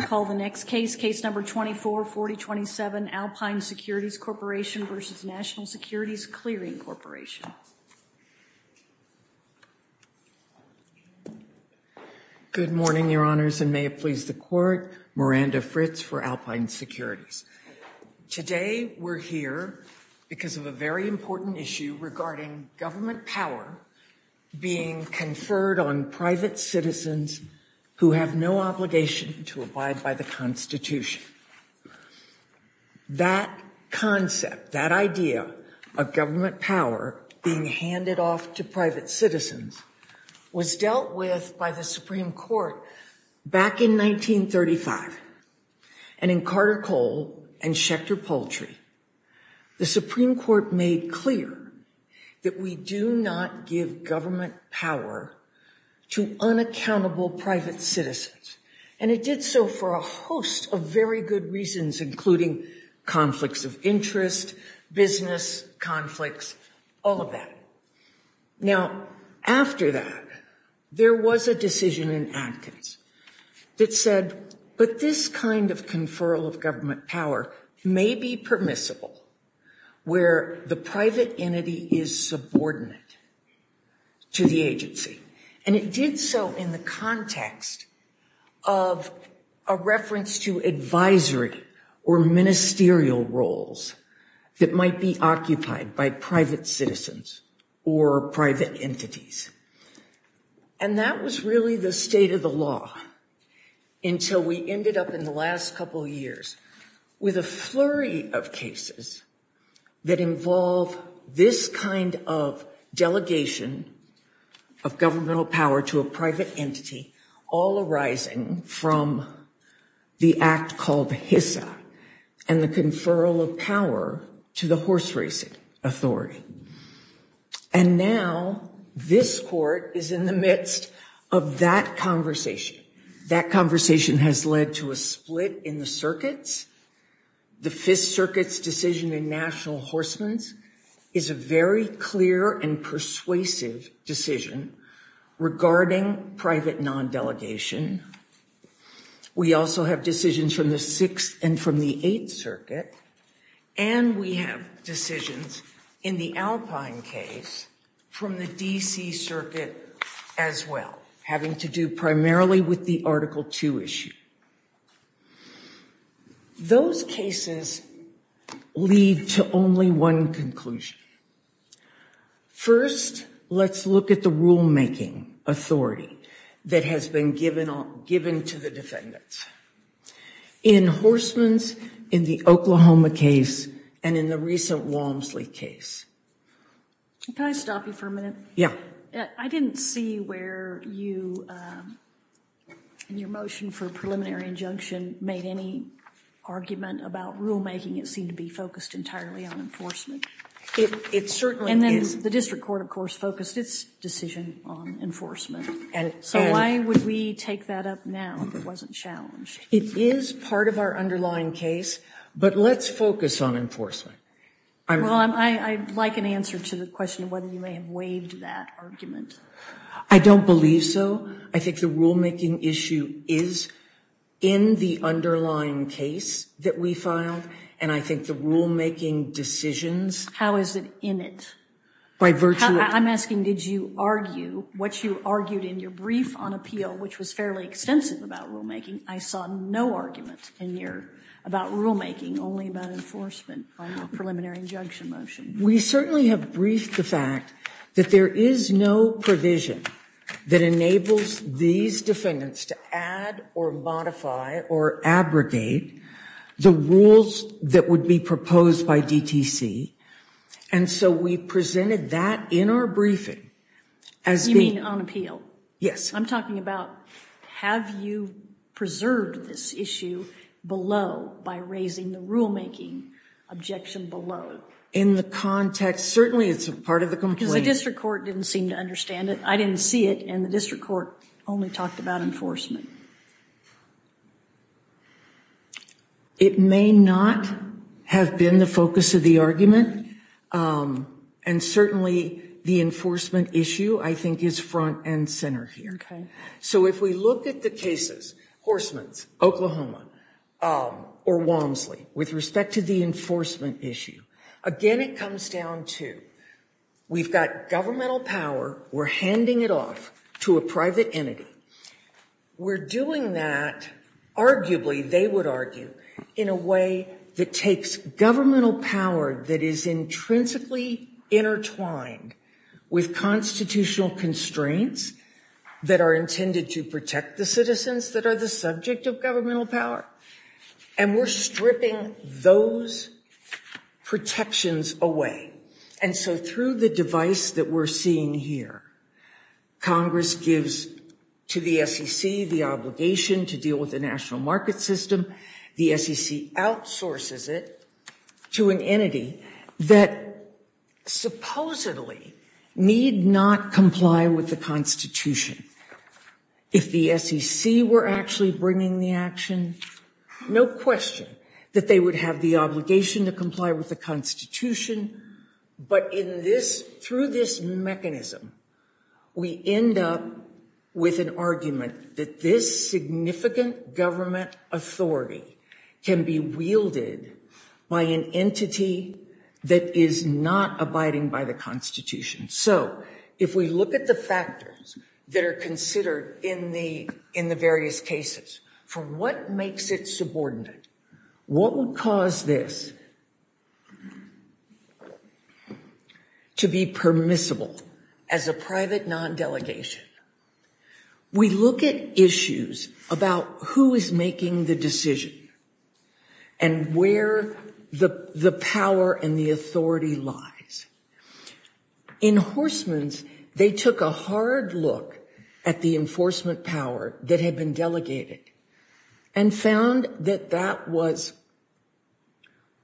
Good morning, your honors, and may it please the court. Miranda Fritz for Alpine Securities. Today, we're here because of a very important issue regarding government power being conferred on private citizens and private companies. Who have no obligation to abide by the Constitution. That concept that idea of government power being handed off to private citizens was dealt with by the Supreme Court. Back in 1935, and in Carter Cole and Schechter Poultry, the Supreme Court made clear that we do not give government power to unaccountable private citizens. And it did so for a host of very good reasons, including conflicts of interest, business conflicts, all of that. Now, after that, there was a decision in Atkins that said, but this kind of conferral of government power may be permissible where the private entity is subordinate to the agency. And it did so in the context of a reference to advisory or ministerial roles that might be occupied by private citizens or private entities. And that was really the state of the law until we ended up in the last couple of years with a flurry of cases that involve this kind of delegation of governmental power to a private entity, all arising from the act called HISA and the conferral of power to the horse racing authority. And now, this court is in the midst of that conversation. That conversation has led to a split in the circuits. The Fifth Circuit's decision in National Horsemen's is a very clear and persuasive decision regarding private non-delegation. We also have decisions from the Sixth and from the Eighth Circuit. And we have decisions in the Alpine case from the D.C. Circuit as well, having to do primarily with the Article II issue. Those cases lead to only one conclusion. First, let's look at the rulemaking authority that has been given to the defendants. In horsemen's, in the Oklahoma case, and in the recent Walmsley case. Can I stop you for a minute? Yeah. I didn't see where you, in your motion for preliminary injunction, made any argument about rulemaking. It seemed to be focused entirely on enforcement. It certainly is. And then the district court, of course, focused its decision on enforcement. So why would we take that up now if it wasn't challenged? It is part of our underlying case, but let's focus on enforcement. Well, I'd like an answer to the question of whether you may have waived that argument. I don't believe so. I think the rulemaking issue is in the underlying case that we filed. And I think the rulemaking decisions. How is it in it? By virtue of. I'm asking, did you argue what you argued in your brief on appeal, which was fairly extensive about rulemaking? I saw no argument in your, about rulemaking, only about enforcement on your preliminary injunction motion. We certainly have briefed the fact that there is no provision that enables these defendants to add or modify or abrogate the rules that would be proposed by DTC. And so we presented that in our briefing. You mean on appeal? Yes. I'm talking about, have you preserved this issue below by raising the rulemaking objection below? In the context, certainly it's a part of the complaint. Because the district court didn't seem to understand it. I didn't see it, and the district court only talked about enforcement. It may not have been the focus of the argument. And certainly the enforcement issue, I think, is front and center here. So if we look at the cases, Horstman's, Oklahoma, or Walmsley, with respect to the enforcement issue, again it comes down to, we've got governmental power. We're handing it off to a private entity. We're doing that, arguably, they would argue, in a way that takes governmental power that is intrinsically intertwined with constitutional constraints that are intended to protect the citizens that are the subject of governmental power. And we're stripping those protections away. And so through the device that we're seeing here, Congress gives to the SEC the obligation to deal with the national market system. The SEC outsources it to an entity that supposedly need not comply with the Constitution. If the SEC were actually bringing the action, no question that they would have the obligation to comply with the Constitution. But through this mechanism, we end up with an argument that this significant government authority can be wielded by an entity that is not abiding by the Constitution. So if we look at the factors that are considered in the various cases, for what makes it subordinate? What would cause this to be permissible as a private non-delegation? We look at issues about who is making the decision and where the power and the authority lies. In Horstman's, they took a hard look at the enforcement power that had been delegated and found that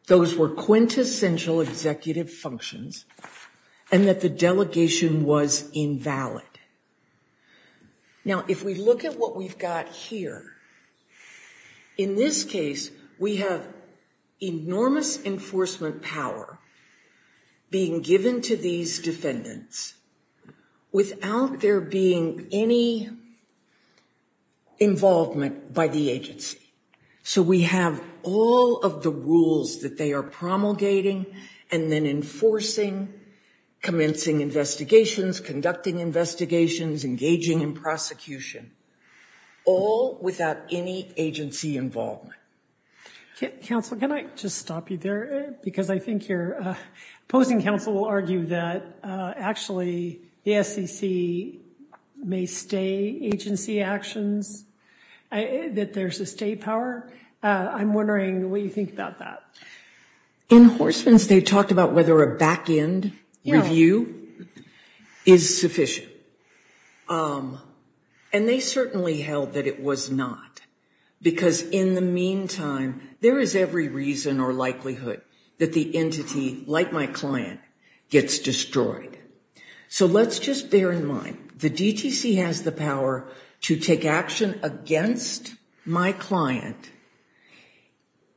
those were quintessential executive functions and that the delegation was invalid. Now, if we look at what we've got here, in this case, we have enormous enforcement power being given to these defendants without there being any involvement by the agency. So we have all of the rules that they are promulgating and then enforcing, commencing investigations, conducting investigations, engaging in prosecution, all without any agency involvement. Counsel, can I just stop you there? Because I think your opposing counsel will argue that actually the SEC may stay agency actions, that there's a state power. I'm wondering what you think about that. In Horstman's, they talked about whether a back-end review is sufficient. And they certainly held that it was not. Because in the meantime, there is every reason or likelihood that the entity, like my client, gets destroyed. So let's just bear in mind, the DTC has the power to take action against my client.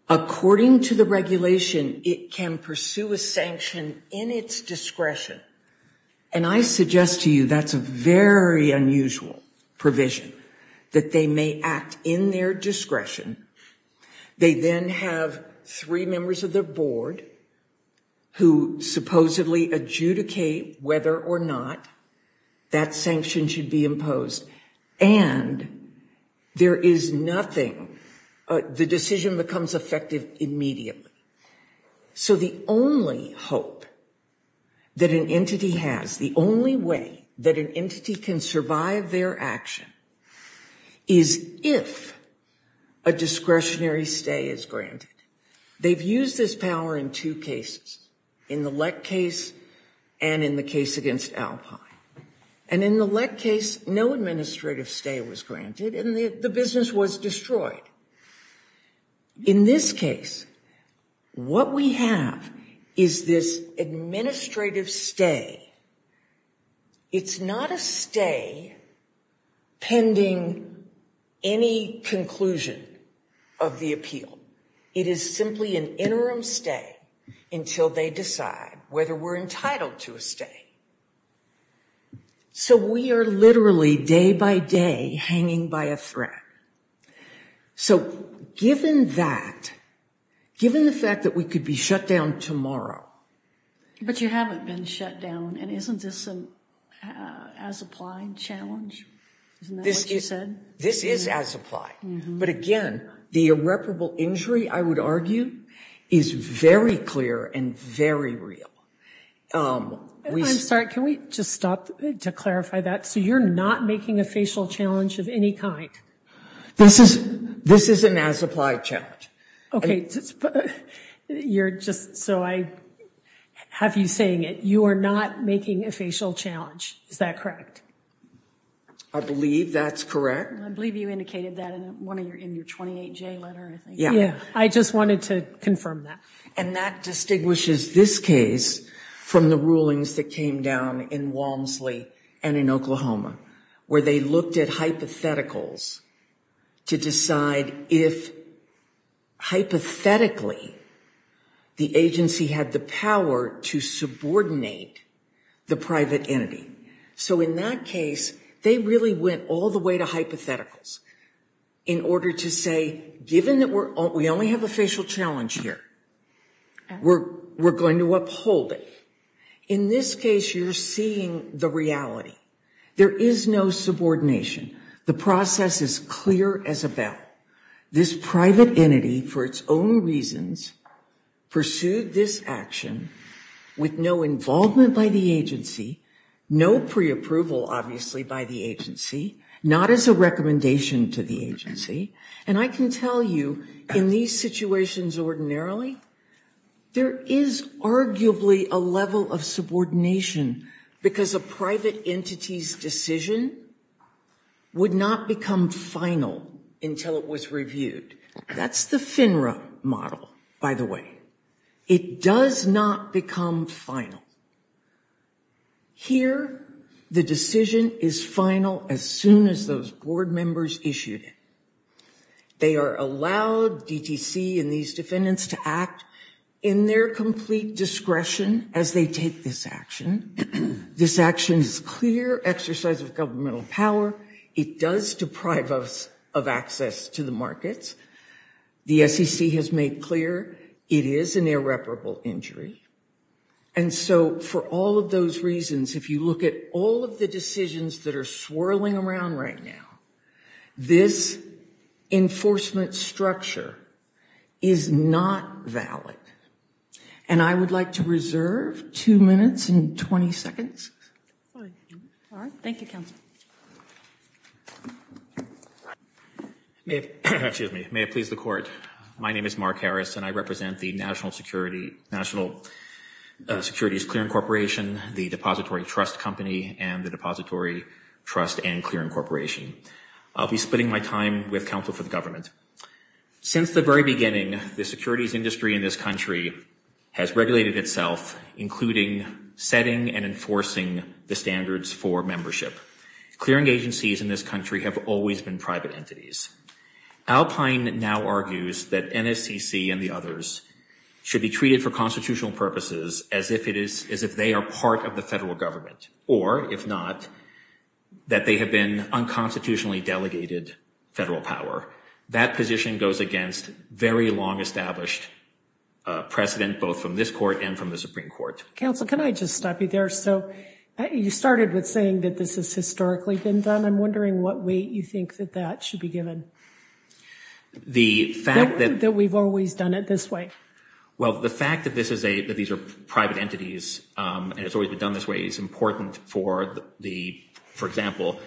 According to the regulation, it can pursue a sanction in its discretion. And I suggest to you that's a very unusual provision, that they may act in their discretion. They then have three members of the board who supposedly adjudicate whether or not that sanction should be imposed. And there is nothing, the decision becomes effective immediately. So the only hope that an entity has, the only way that an entity can survive their action, is if a discretionary stay is granted. They've used this power in two cases, in the Lett case and in the case against Alpine. And in the Lett case, no administrative stay was granted and the business was destroyed. In this case, what we have is this administrative stay. It's not a stay pending any conclusion of the appeal. It is simply an interim stay until they decide whether we're entitled to a stay. So we are literally, day by day, hanging by a thread. So given that, given the fact that we could be shut down tomorrow. But you haven't been shut down, and isn't this an as-applied challenge? Isn't that what you said? This is as-applied. But again, the irreparable injury, I would argue, is very clear and very real. I'm sorry, can we just stop to clarify that? So you're not making a facial challenge of any kind? This is an as-applied challenge. Okay, you're just, so I have you saying it, you are not making a facial challenge, is that correct? I believe that's correct. I believe you indicated that in your 28J letter, I think. Yeah, I just wanted to confirm that. And that distinguishes this case from the rulings that came down in Walmsley and in Oklahoma, where they looked at hypotheticals to decide if, hypothetically, the agency had the power to subordinate the private entity. So in that case, they really went all the way to hypotheticals in order to say, given that we only have a facial challenge here, we're going to uphold it. In this case, you're seeing the reality. There is no subordination. The process is clear as a bell. This private entity, for its own reasons, pursued this action with no involvement by the agency, no pre-approval, obviously, by the agency, not as a recommendation to the agency. And I can tell you, in these situations ordinarily, there is arguably a level of subordination because a private entity's decision would not become final until it was reviewed. That's the FINRA model, by the way. It does not become final. Here, the decision is final as soon as those board members issued it. They are allowed DTC and these defendants to act in their complete discretion as they take this action. This action is clear exercise of governmental power. It does deprive us of access to the markets. The SEC has made clear it is an irreparable injury. And so, for all of those reasons, if you look at all of the decisions that are swirling around right now, this enforcement structure is not valid. And I would like to reserve two minutes and 20 seconds. Thank you, counsel. Excuse me. May it please the court. My name is Mark Harris and I represent the National Securities Clearing Corporation, the Depository Trust Company, and the Depository Trust and Clearing Corporation. I'll be spending my time with counsel for the government. Since the very beginning, the securities industry in this country has regulated itself, including setting and enforcing the standards for membership. Clearing agencies in this country have always been private entities. Alpine now argues that NSCC and the others should be treated for constitutional purposes as if they are part of the federal government. Or, if not, that they have been unconstitutionally delegated federal power. That position goes against very long established precedent, both from this court and from the Supreme Court. Counsel, can I just stop you there? So, you started with saying that this has historically been done. I'm wondering what weight you think that that should be given. The fact that... That we've always done it this way. Well, the fact that these are private entities and it's always been done this way is important for the... For example,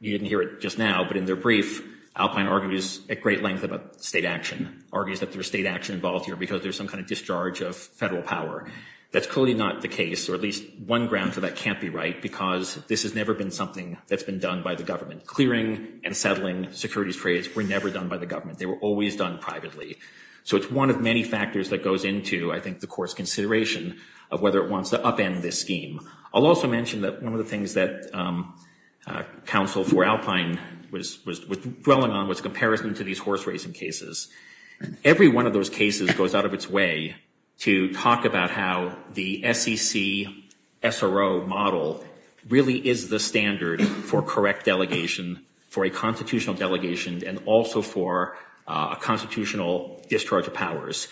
you didn't hear it just now, but in their brief, Alpine argues at great length about state action. Alpine argues that there's state action involved here because there's some kind of discharge of federal power. That's clearly not the case, or at least one ground for that can't be right, because this has never been something that's been done by the government. Clearing and settling securities trades were never done by the government. They were always done privately. So, it's one of many factors that goes into, I think, the court's consideration of whether it wants to upend this scheme. I'll also mention that one of the things that counsel for Alpine was dwelling on was comparison to these horse racing cases. Every one of those cases goes out of its way to talk about how the SEC SRO model really is the standard for correct delegation, for a constitutional delegation, and also for a constitutional discharge of powers.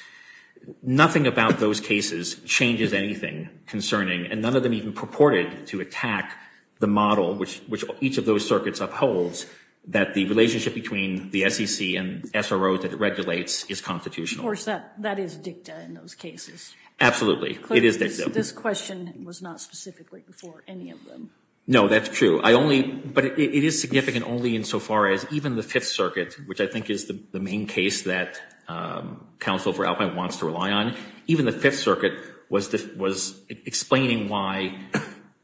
Nothing about those cases changes anything concerning, and none of them even purported to attack the model which each of those circuits upholds, that the relationship between the SEC and SRO that it regulates is constitutional. Of course, that is dicta in those cases. Absolutely. It is dicta. This question was not specifically for any of them. No, that's true. But it is significant only insofar as even the Fifth Circuit, which I think is the main case that counsel for Alpine wants to rely on, even the Fifth Circuit was explaining why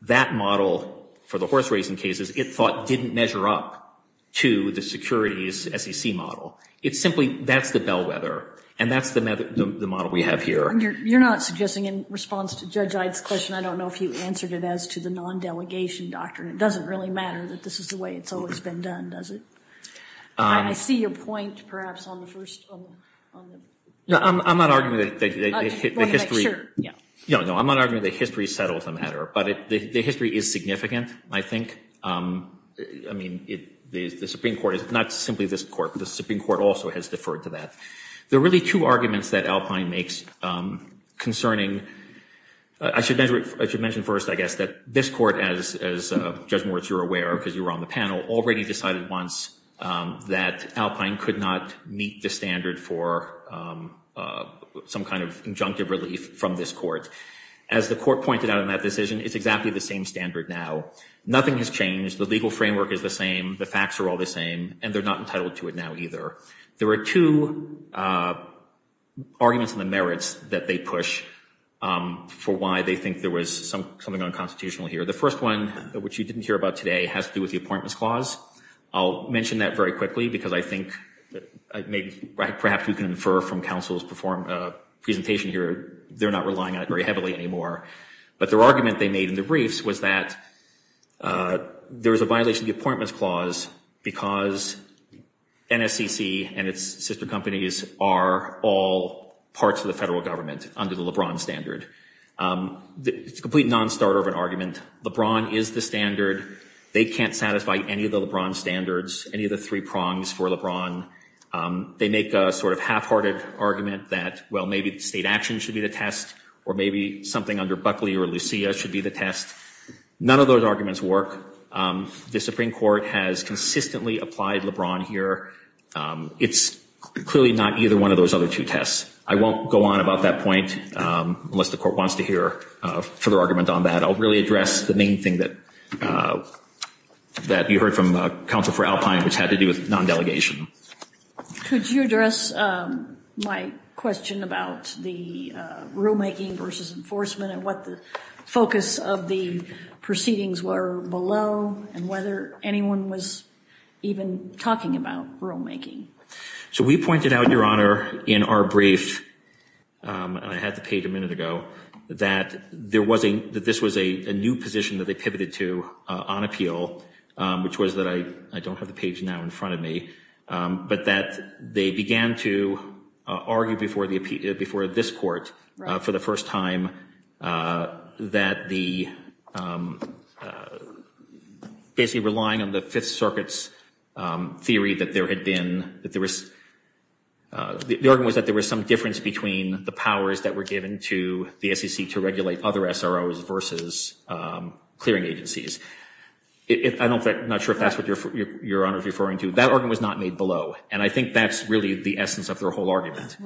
that model for the horse racing cases it thought didn't measure up to the securities SEC model. It's simply, that's the bellwether, and that's the model we have here. You're not suggesting in response to Judge Ide's question, I don't know if you answered it as to the non-delegation doctrine. It doesn't really matter that this is the way it's always been done, does it? I see your point, perhaps, on the first. No, I'm not arguing that history settles the matter, but the history is significant, I think. I mean, the Supreme Court, not simply this Court, but the Supreme Court also has deferred to that. There are really two arguments that Alpine makes concerning, I should mention first, I guess, that this Court, as Judge Moritz, you're aware because you were on the panel, already decided once that Alpine could not meet the standard for some kind of injunctive relief from this Court. As the Court pointed out in that decision, it's exactly the same standard now. Nothing has changed. The legal framework is the same. The facts are all the same, and they're not entitled to it now either. There are two arguments on the merits that they push for why they think there was something unconstitutional here. The first one, which you didn't hear about today, has to do with the Appointments Clause. I'll mention that very quickly because I think, perhaps we can infer from counsel's presentation here, they're not relying on it very heavily anymore. But their argument they made in the briefs was that there was a violation of the Appointments Clause because NSCC and its sister companies are all parts of the federal government under the LeBron standard. It's a complete non-starter of an argument. LeBron is the standard. They can't satisfy any of the LeBron standards, any of the three prongs for LeBron. They make a sort of half-hearted argument that, well, maybe state action should be the test, or maybe something under Buckley or Lucia should be the test. None of those arguments work. The Supreme Court has consistently applied LeBron here. It's clearly not either one of those other two tests. I won't go on about that point unless the court wants to hear a further argument on that. I'll really address the main thing that you heard from Counsel for Alpine, which had to do with non-delegation. Could you address my question about the rulemaking versus enforcement and what the focus of the proceedings were below and whether anyone was even talking about rulemaking? So we pointed out, Your Honor, in our brief, and I had the page a minute ago, that this was a new position that they pivoted to on appeal, which was that I don't have the page now in front of me, but that they began to argue before this court for the first time that basically relying on the Fifth Circuit's theory that there was some difference between the powers that were given to the SEC to regulate other SROs versus clearing agencies. I'm not sure if that's what Your Honor is referring to. That argument was not made below, and I think that's really the essence of their whole argument.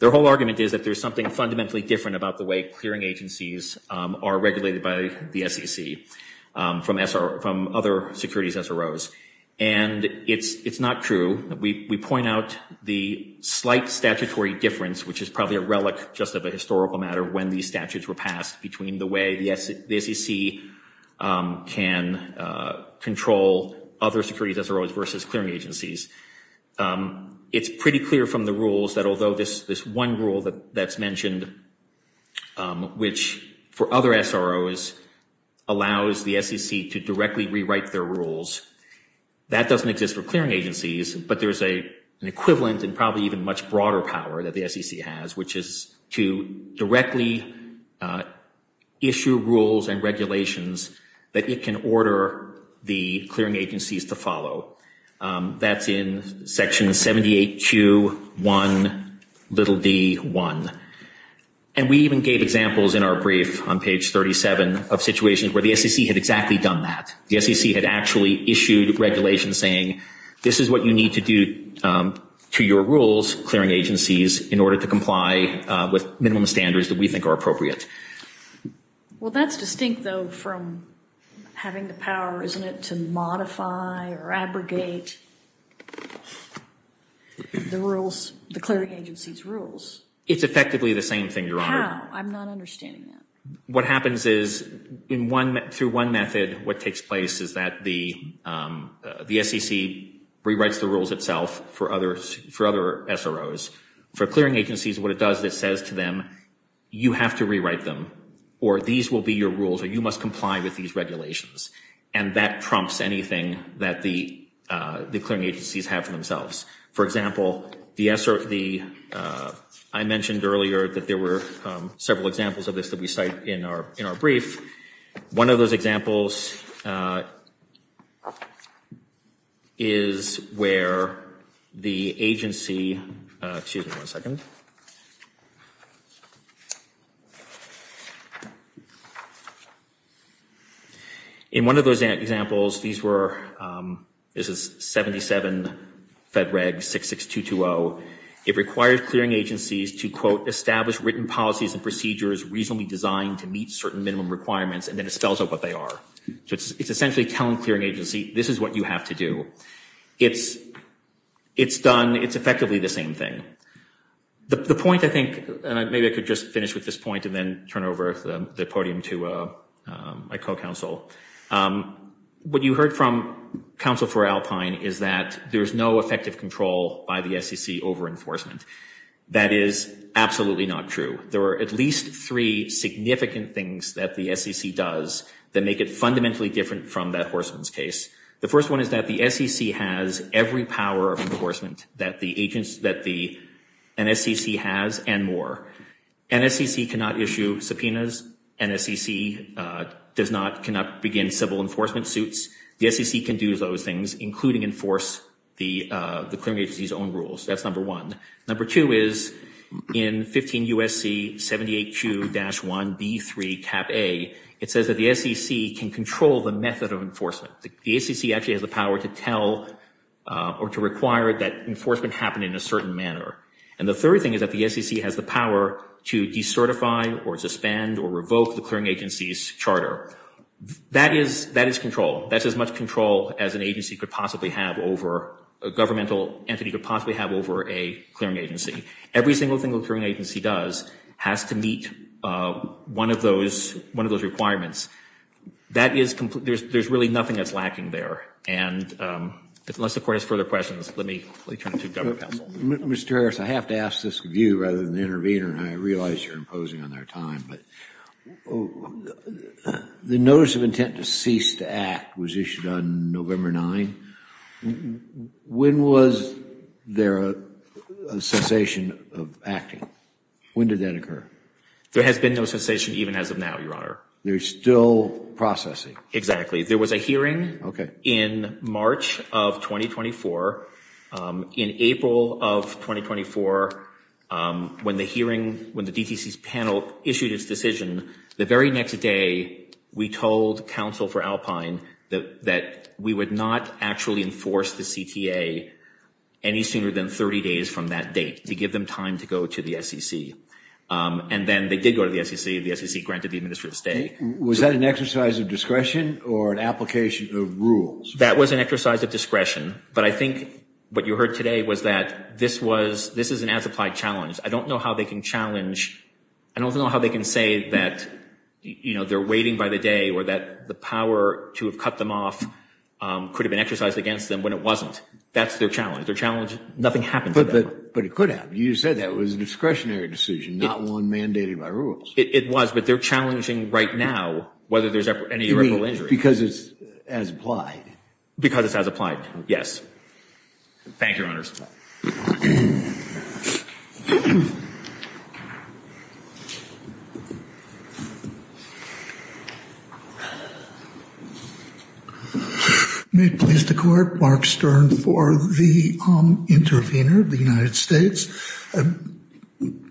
Their whole argument is that there's something fundamentally different about the way clearing agencies are regulated by the SEC from other securities SROs, and it's not true. We point out the slight statutory difference, which is probably a relic just of a historical matter, when these statutes were passed between the way the SEC can control other securities SROs versus clearing agencies. It's pretty clear from the rules that although this one rule that's mentioned, which for other SROs allows the SEC to directly rewrite their rules, that doesn't exist for clearing agencies, but there's an equivalent and probably even much broader power that the SEC has, which is to directly issue rules and regulations that it can order the clearing agencies to follow. That's in Section 78Q1d1. And we even gave examples in our brief on page 37 of situations where the SEC had exactly done that. The SEC had actually issued regulations saying, this is what you need to do to your rules, clearing agencies, in order to comply with minimum standards that we think are appropriate. Well, that's distinct, though, from having the power, isn't it, to modify or abrogate the rules, the clearing agency's rules? It's effectively the same thing, Your Honor. How? I'm not understanding that. What happens is, through one method, what takes place is that the SEC rewrites the rules itself for other SROs. For clearing agencies, what it does is it says to them, you have to rewrite them, or these will be your rules, or you must comply with these regulations. And that prompts anything that the clearing agencies have for themselves. For example, I mentioned earlier that there were several examples of this that we cite in our brief. One of those examples is where the agency—excuse me one second. In one of those examples, these were—this is 77 Fed Reg 66220. It requires clearing agencies to, quote, establish written policies and procedures reasonably designed to meet certain minimum requirements, and then it spells out what they are. So it's essentially telling a clearing agency, this is what you have to do. It's done—it's effectively the same thing. The point, I think—and maybe I could just finish with this point and then turn over the podium to my co-counsel. What you heard from Counsel for Alpine is that there is no effective control by the SEC over enforcement. That is absolutely not true. There are at least three significant things that the SEC does that make it fundamentally different from that Horstman's case. The first one is that the SEC has every power of enforcement that the agency—that the NSEC has and more. NSEC cannot issue subpoenas. NSEC does not—cannot begin civil enforcement suits. The SEC can do those things, including enforce the clearing agency's own rules. That's number one. Number two is in 15 U.S.C. 78Q-1B3 Cap A, it says that the SEC can control the method of enforcement. The SEC actually has the power to tell or to require that enforcement happen in a certain manner. And the third thing is that the SEC has the power to decertify or suspend or revoke the clearing agency's charter. That is—that is control. That's as much control as an agency could possibly have over—a governmental entity could possibly have over a clearing agency. Every single thing a clearing agency does has to meet one of those—one of those requirements. That is—there's really nothing that's lacking there. And unless the Court has further questions, let me turn it to Governor Powell. Mr. Harris, I have to ask this of you rather than the intervener, and I realize you're imposing on our time. But the notice of intent to cease to act was issued on November 9. When was there a cessation of acting? When did that occur? There has been no cessation even as of now, Your Honor. There's still processing. Exactly. There was a hearing in March of 2024. In April of 2024, when the hearing—when the DTC's panel issued its decision, the very next day we told counsel for Alpine that we would not actually enforce the CTA any sooner than 30 days from that date to give them time to go to the SEC. And then they did go to the SEC. The SEC granted the administer the stay. Was that an exercise of discretion or an application of rules? That was an exercise of discretion. But I think what you heard today was that this was—this is an as-applied challenge. I don't know how they can challenge—I don't know how they can say that, you know, they're waiting by the day or that the power to have cut them off could have been exercised against them when it wasn't. That's their challenge. Their challenge—nothing happened for them. But it could have. You said that was a discretionary decision, not one mandated by rules. It was, but they're challenging right now whether there's any irreparable injury. You mean because it's as-applied? Because it's as-applied, yes. Thank you, Your Honors. May it please the Court, Mark Stern for the intervener, the United States. There's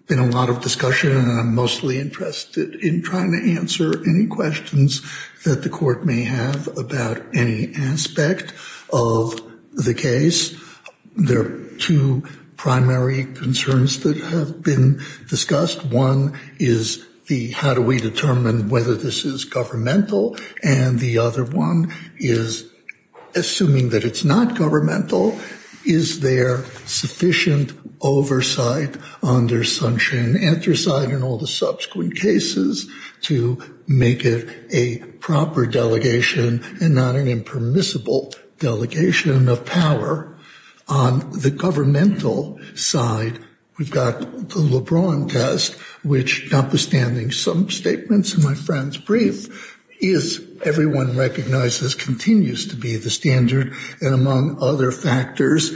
been a lot of discussion, and I'm mostly interested in trying to answer any questions that the Court may have about any aspect of the case. There are two primary concerns that have been discussed. One is the how do we determine whether this is governmental, and the other one is, assuming that it's not governmental, is there sufficient oversight under sunshine and anthracite in all the subsequent cases to make it a proper delegation and not an impermissible delegation of power on the governmental side? We've got the LeBron test, which, notwithstanding some statements in my friend's brief, is, everyone recognizes, continues to be the standard, and among other factors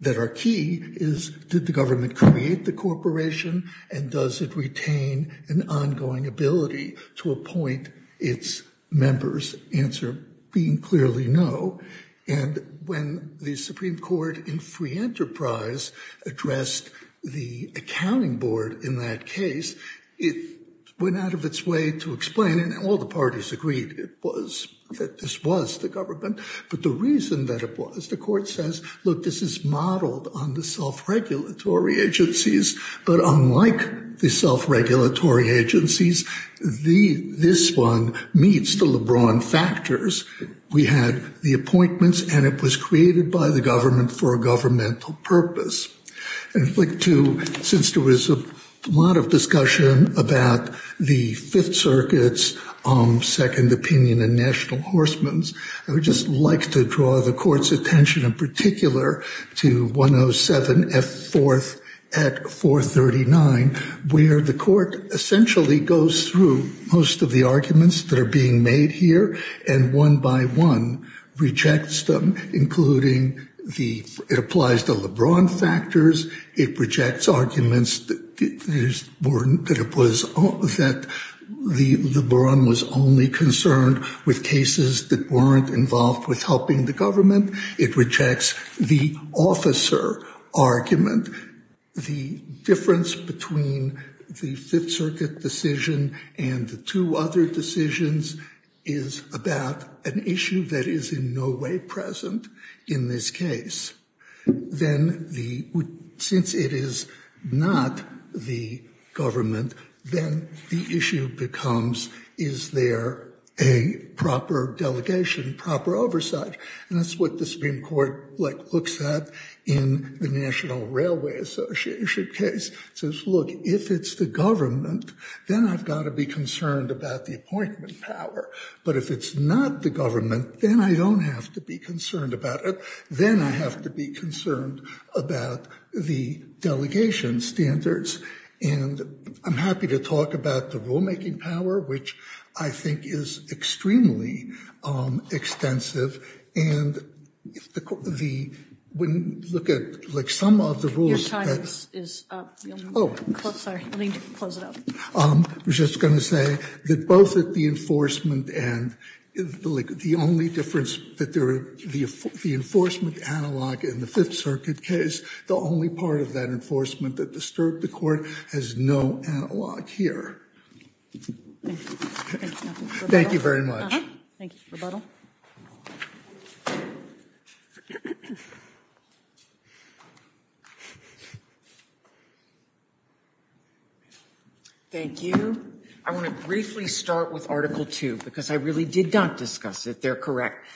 that are key is did the government create the corporation and does it retain an ongoing ability to appoint its members? The answer being clearly no, and when the Supreme Court in free enterprise addressed the accounting board in that case, it went out of its way to explain, and all the parties agreed that this was the government, but the reason that it was, the Court says, look, this is modeled on the self-regulatory agencies, but unlike the self-regulatory agencies, this one meets the LeBron factors. We had the appointments, and it was created by the government for a governmental purpose. I'd like to, since there was a lot of discussion about the Fifth Circuit's second opinion in National Horsemen's, I would just like to draw the Court's attention in particular to 107F4 at 439, where the Court essentially goes through most of the arguments that are being made here and one by one rejects them, including the, it applies the LeBron factors, it rejects arguments that it was, that the LeBron was only concerned with cases that weren't involved with helping the government, it rejects the officer argument. The difference between the Fifth Circuit decision and the two other decisions is about an issue that is in no way present in this case. Then the, since it is not the government, then the issue becomes, is there a proper delegation, proper oversight? And that's what the Supreme Court, like, looks at in the National Railway Association case. It says, look, if it's the government, then I've got to be concerned about the appointment power. But if it's not the government, then I don't have to be concerned about it. Then I have to be concerned about the delegation standards. And I'm happy to talk about the rulemaking power, which I think is extremely extensive. And the, when you look at, like, some of the rules that- Your time is up. Oh. I'm sorry. Let me close it up. I was just going to say that both at the enforcement and, like, the only difference that there, the enforcement analog in the Fifth Circuit case, the only part of that enforcement that disturbed the court has no analog here. Thank you. Thank you very much. Thank you for the rebuttal. Thank you. I want to briefly start with Article 2, because I really did not discuss it. They're correct.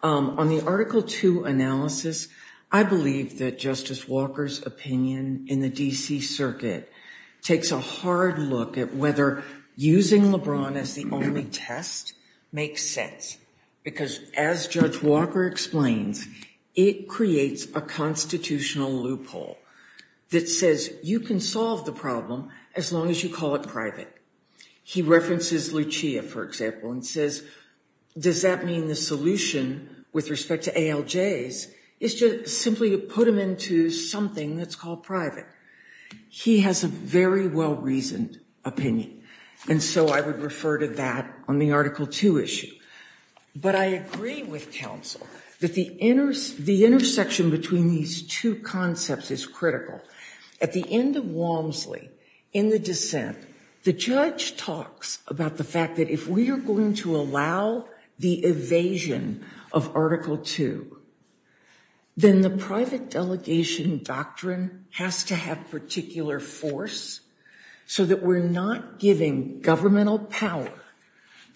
On the Article 2 analysis, I believe that Justice Walker's opinion in the D.C. Circuit takes a hard look at whether using LeBron as the only test makes sense. Because as Judge Walker explains, it creates a constitutional loophole that says you can solve the problem as long as you call it private. He references Lucia, for example, and says, does that mean the solution with respect to ALJs is to simply put them into something that's called private? He has a very well-reasoned opinion. And so I would refer to that on the Article 2 issue. But I agree with counsel that the intersection between these two concepts is critical. At the end of Walmsley, in the dissent, the judge talks about the fact that if we are going to allow the evasion of Article 2, then the private delegation doctrine has to have particular force so that we're not giving governmental power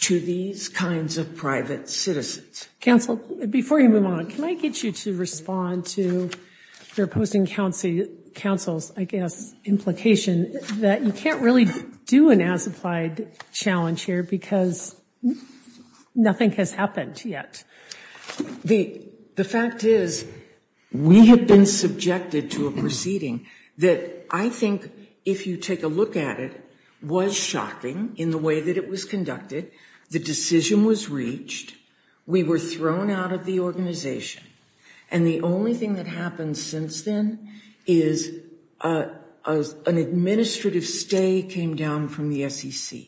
to these kinds of private citizens. Counsel, before you move on, can I get you to respond to your opposing counsel's, I guess, implication that you can't really do an as-applied challenge here because nothing has happened yet? The fact is we have been subjected to a proceeding that I think, if you take a look at it, was shocking in the way that it was conducted. The decision was reached. We were thrown out of the organization. And the only thing that happened since then is an administrative stay came down from the SEC.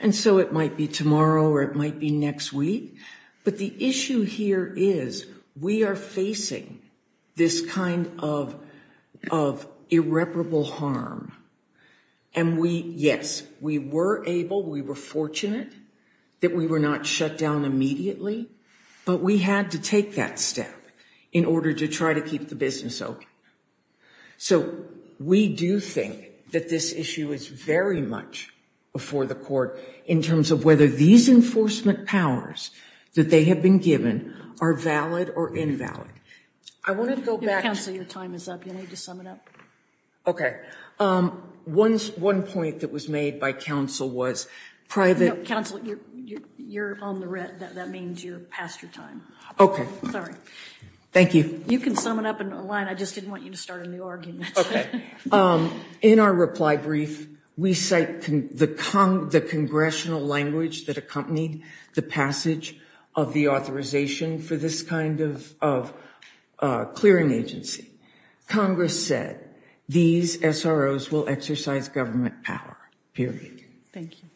And so it might be tomorrow or it might be next week. But the issue here is we are facing this kind of irreparable harm. And we, yes, we were able, we were fortunate that we were not shut down immediately. But we had to take that step in order to try to keep the business open. So we do think that this issue is very much before the court in terms of whether these enforcement powers that they have been given are valid or invalid. I wanted to go back. Counsel, your time is up. You need to sum it up. Okay. One point that was made by counsel was private. Counsel, you're on the red. That means you're past your time. Okay. Sorry. Thank you. You can sum it up in a line. I just didn't want you to start a new argument. Okay. In our reply brief, we cite the congressional language that accompanied the passage of the authorization for this kind of clearing agency. Congress said these SROs will exercise government power, period. Thank you.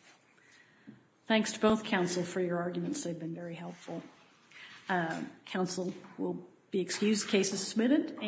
Thanks to both counsel for your arguments. They've been very helpful. Counsel will be excused. Case is submitted.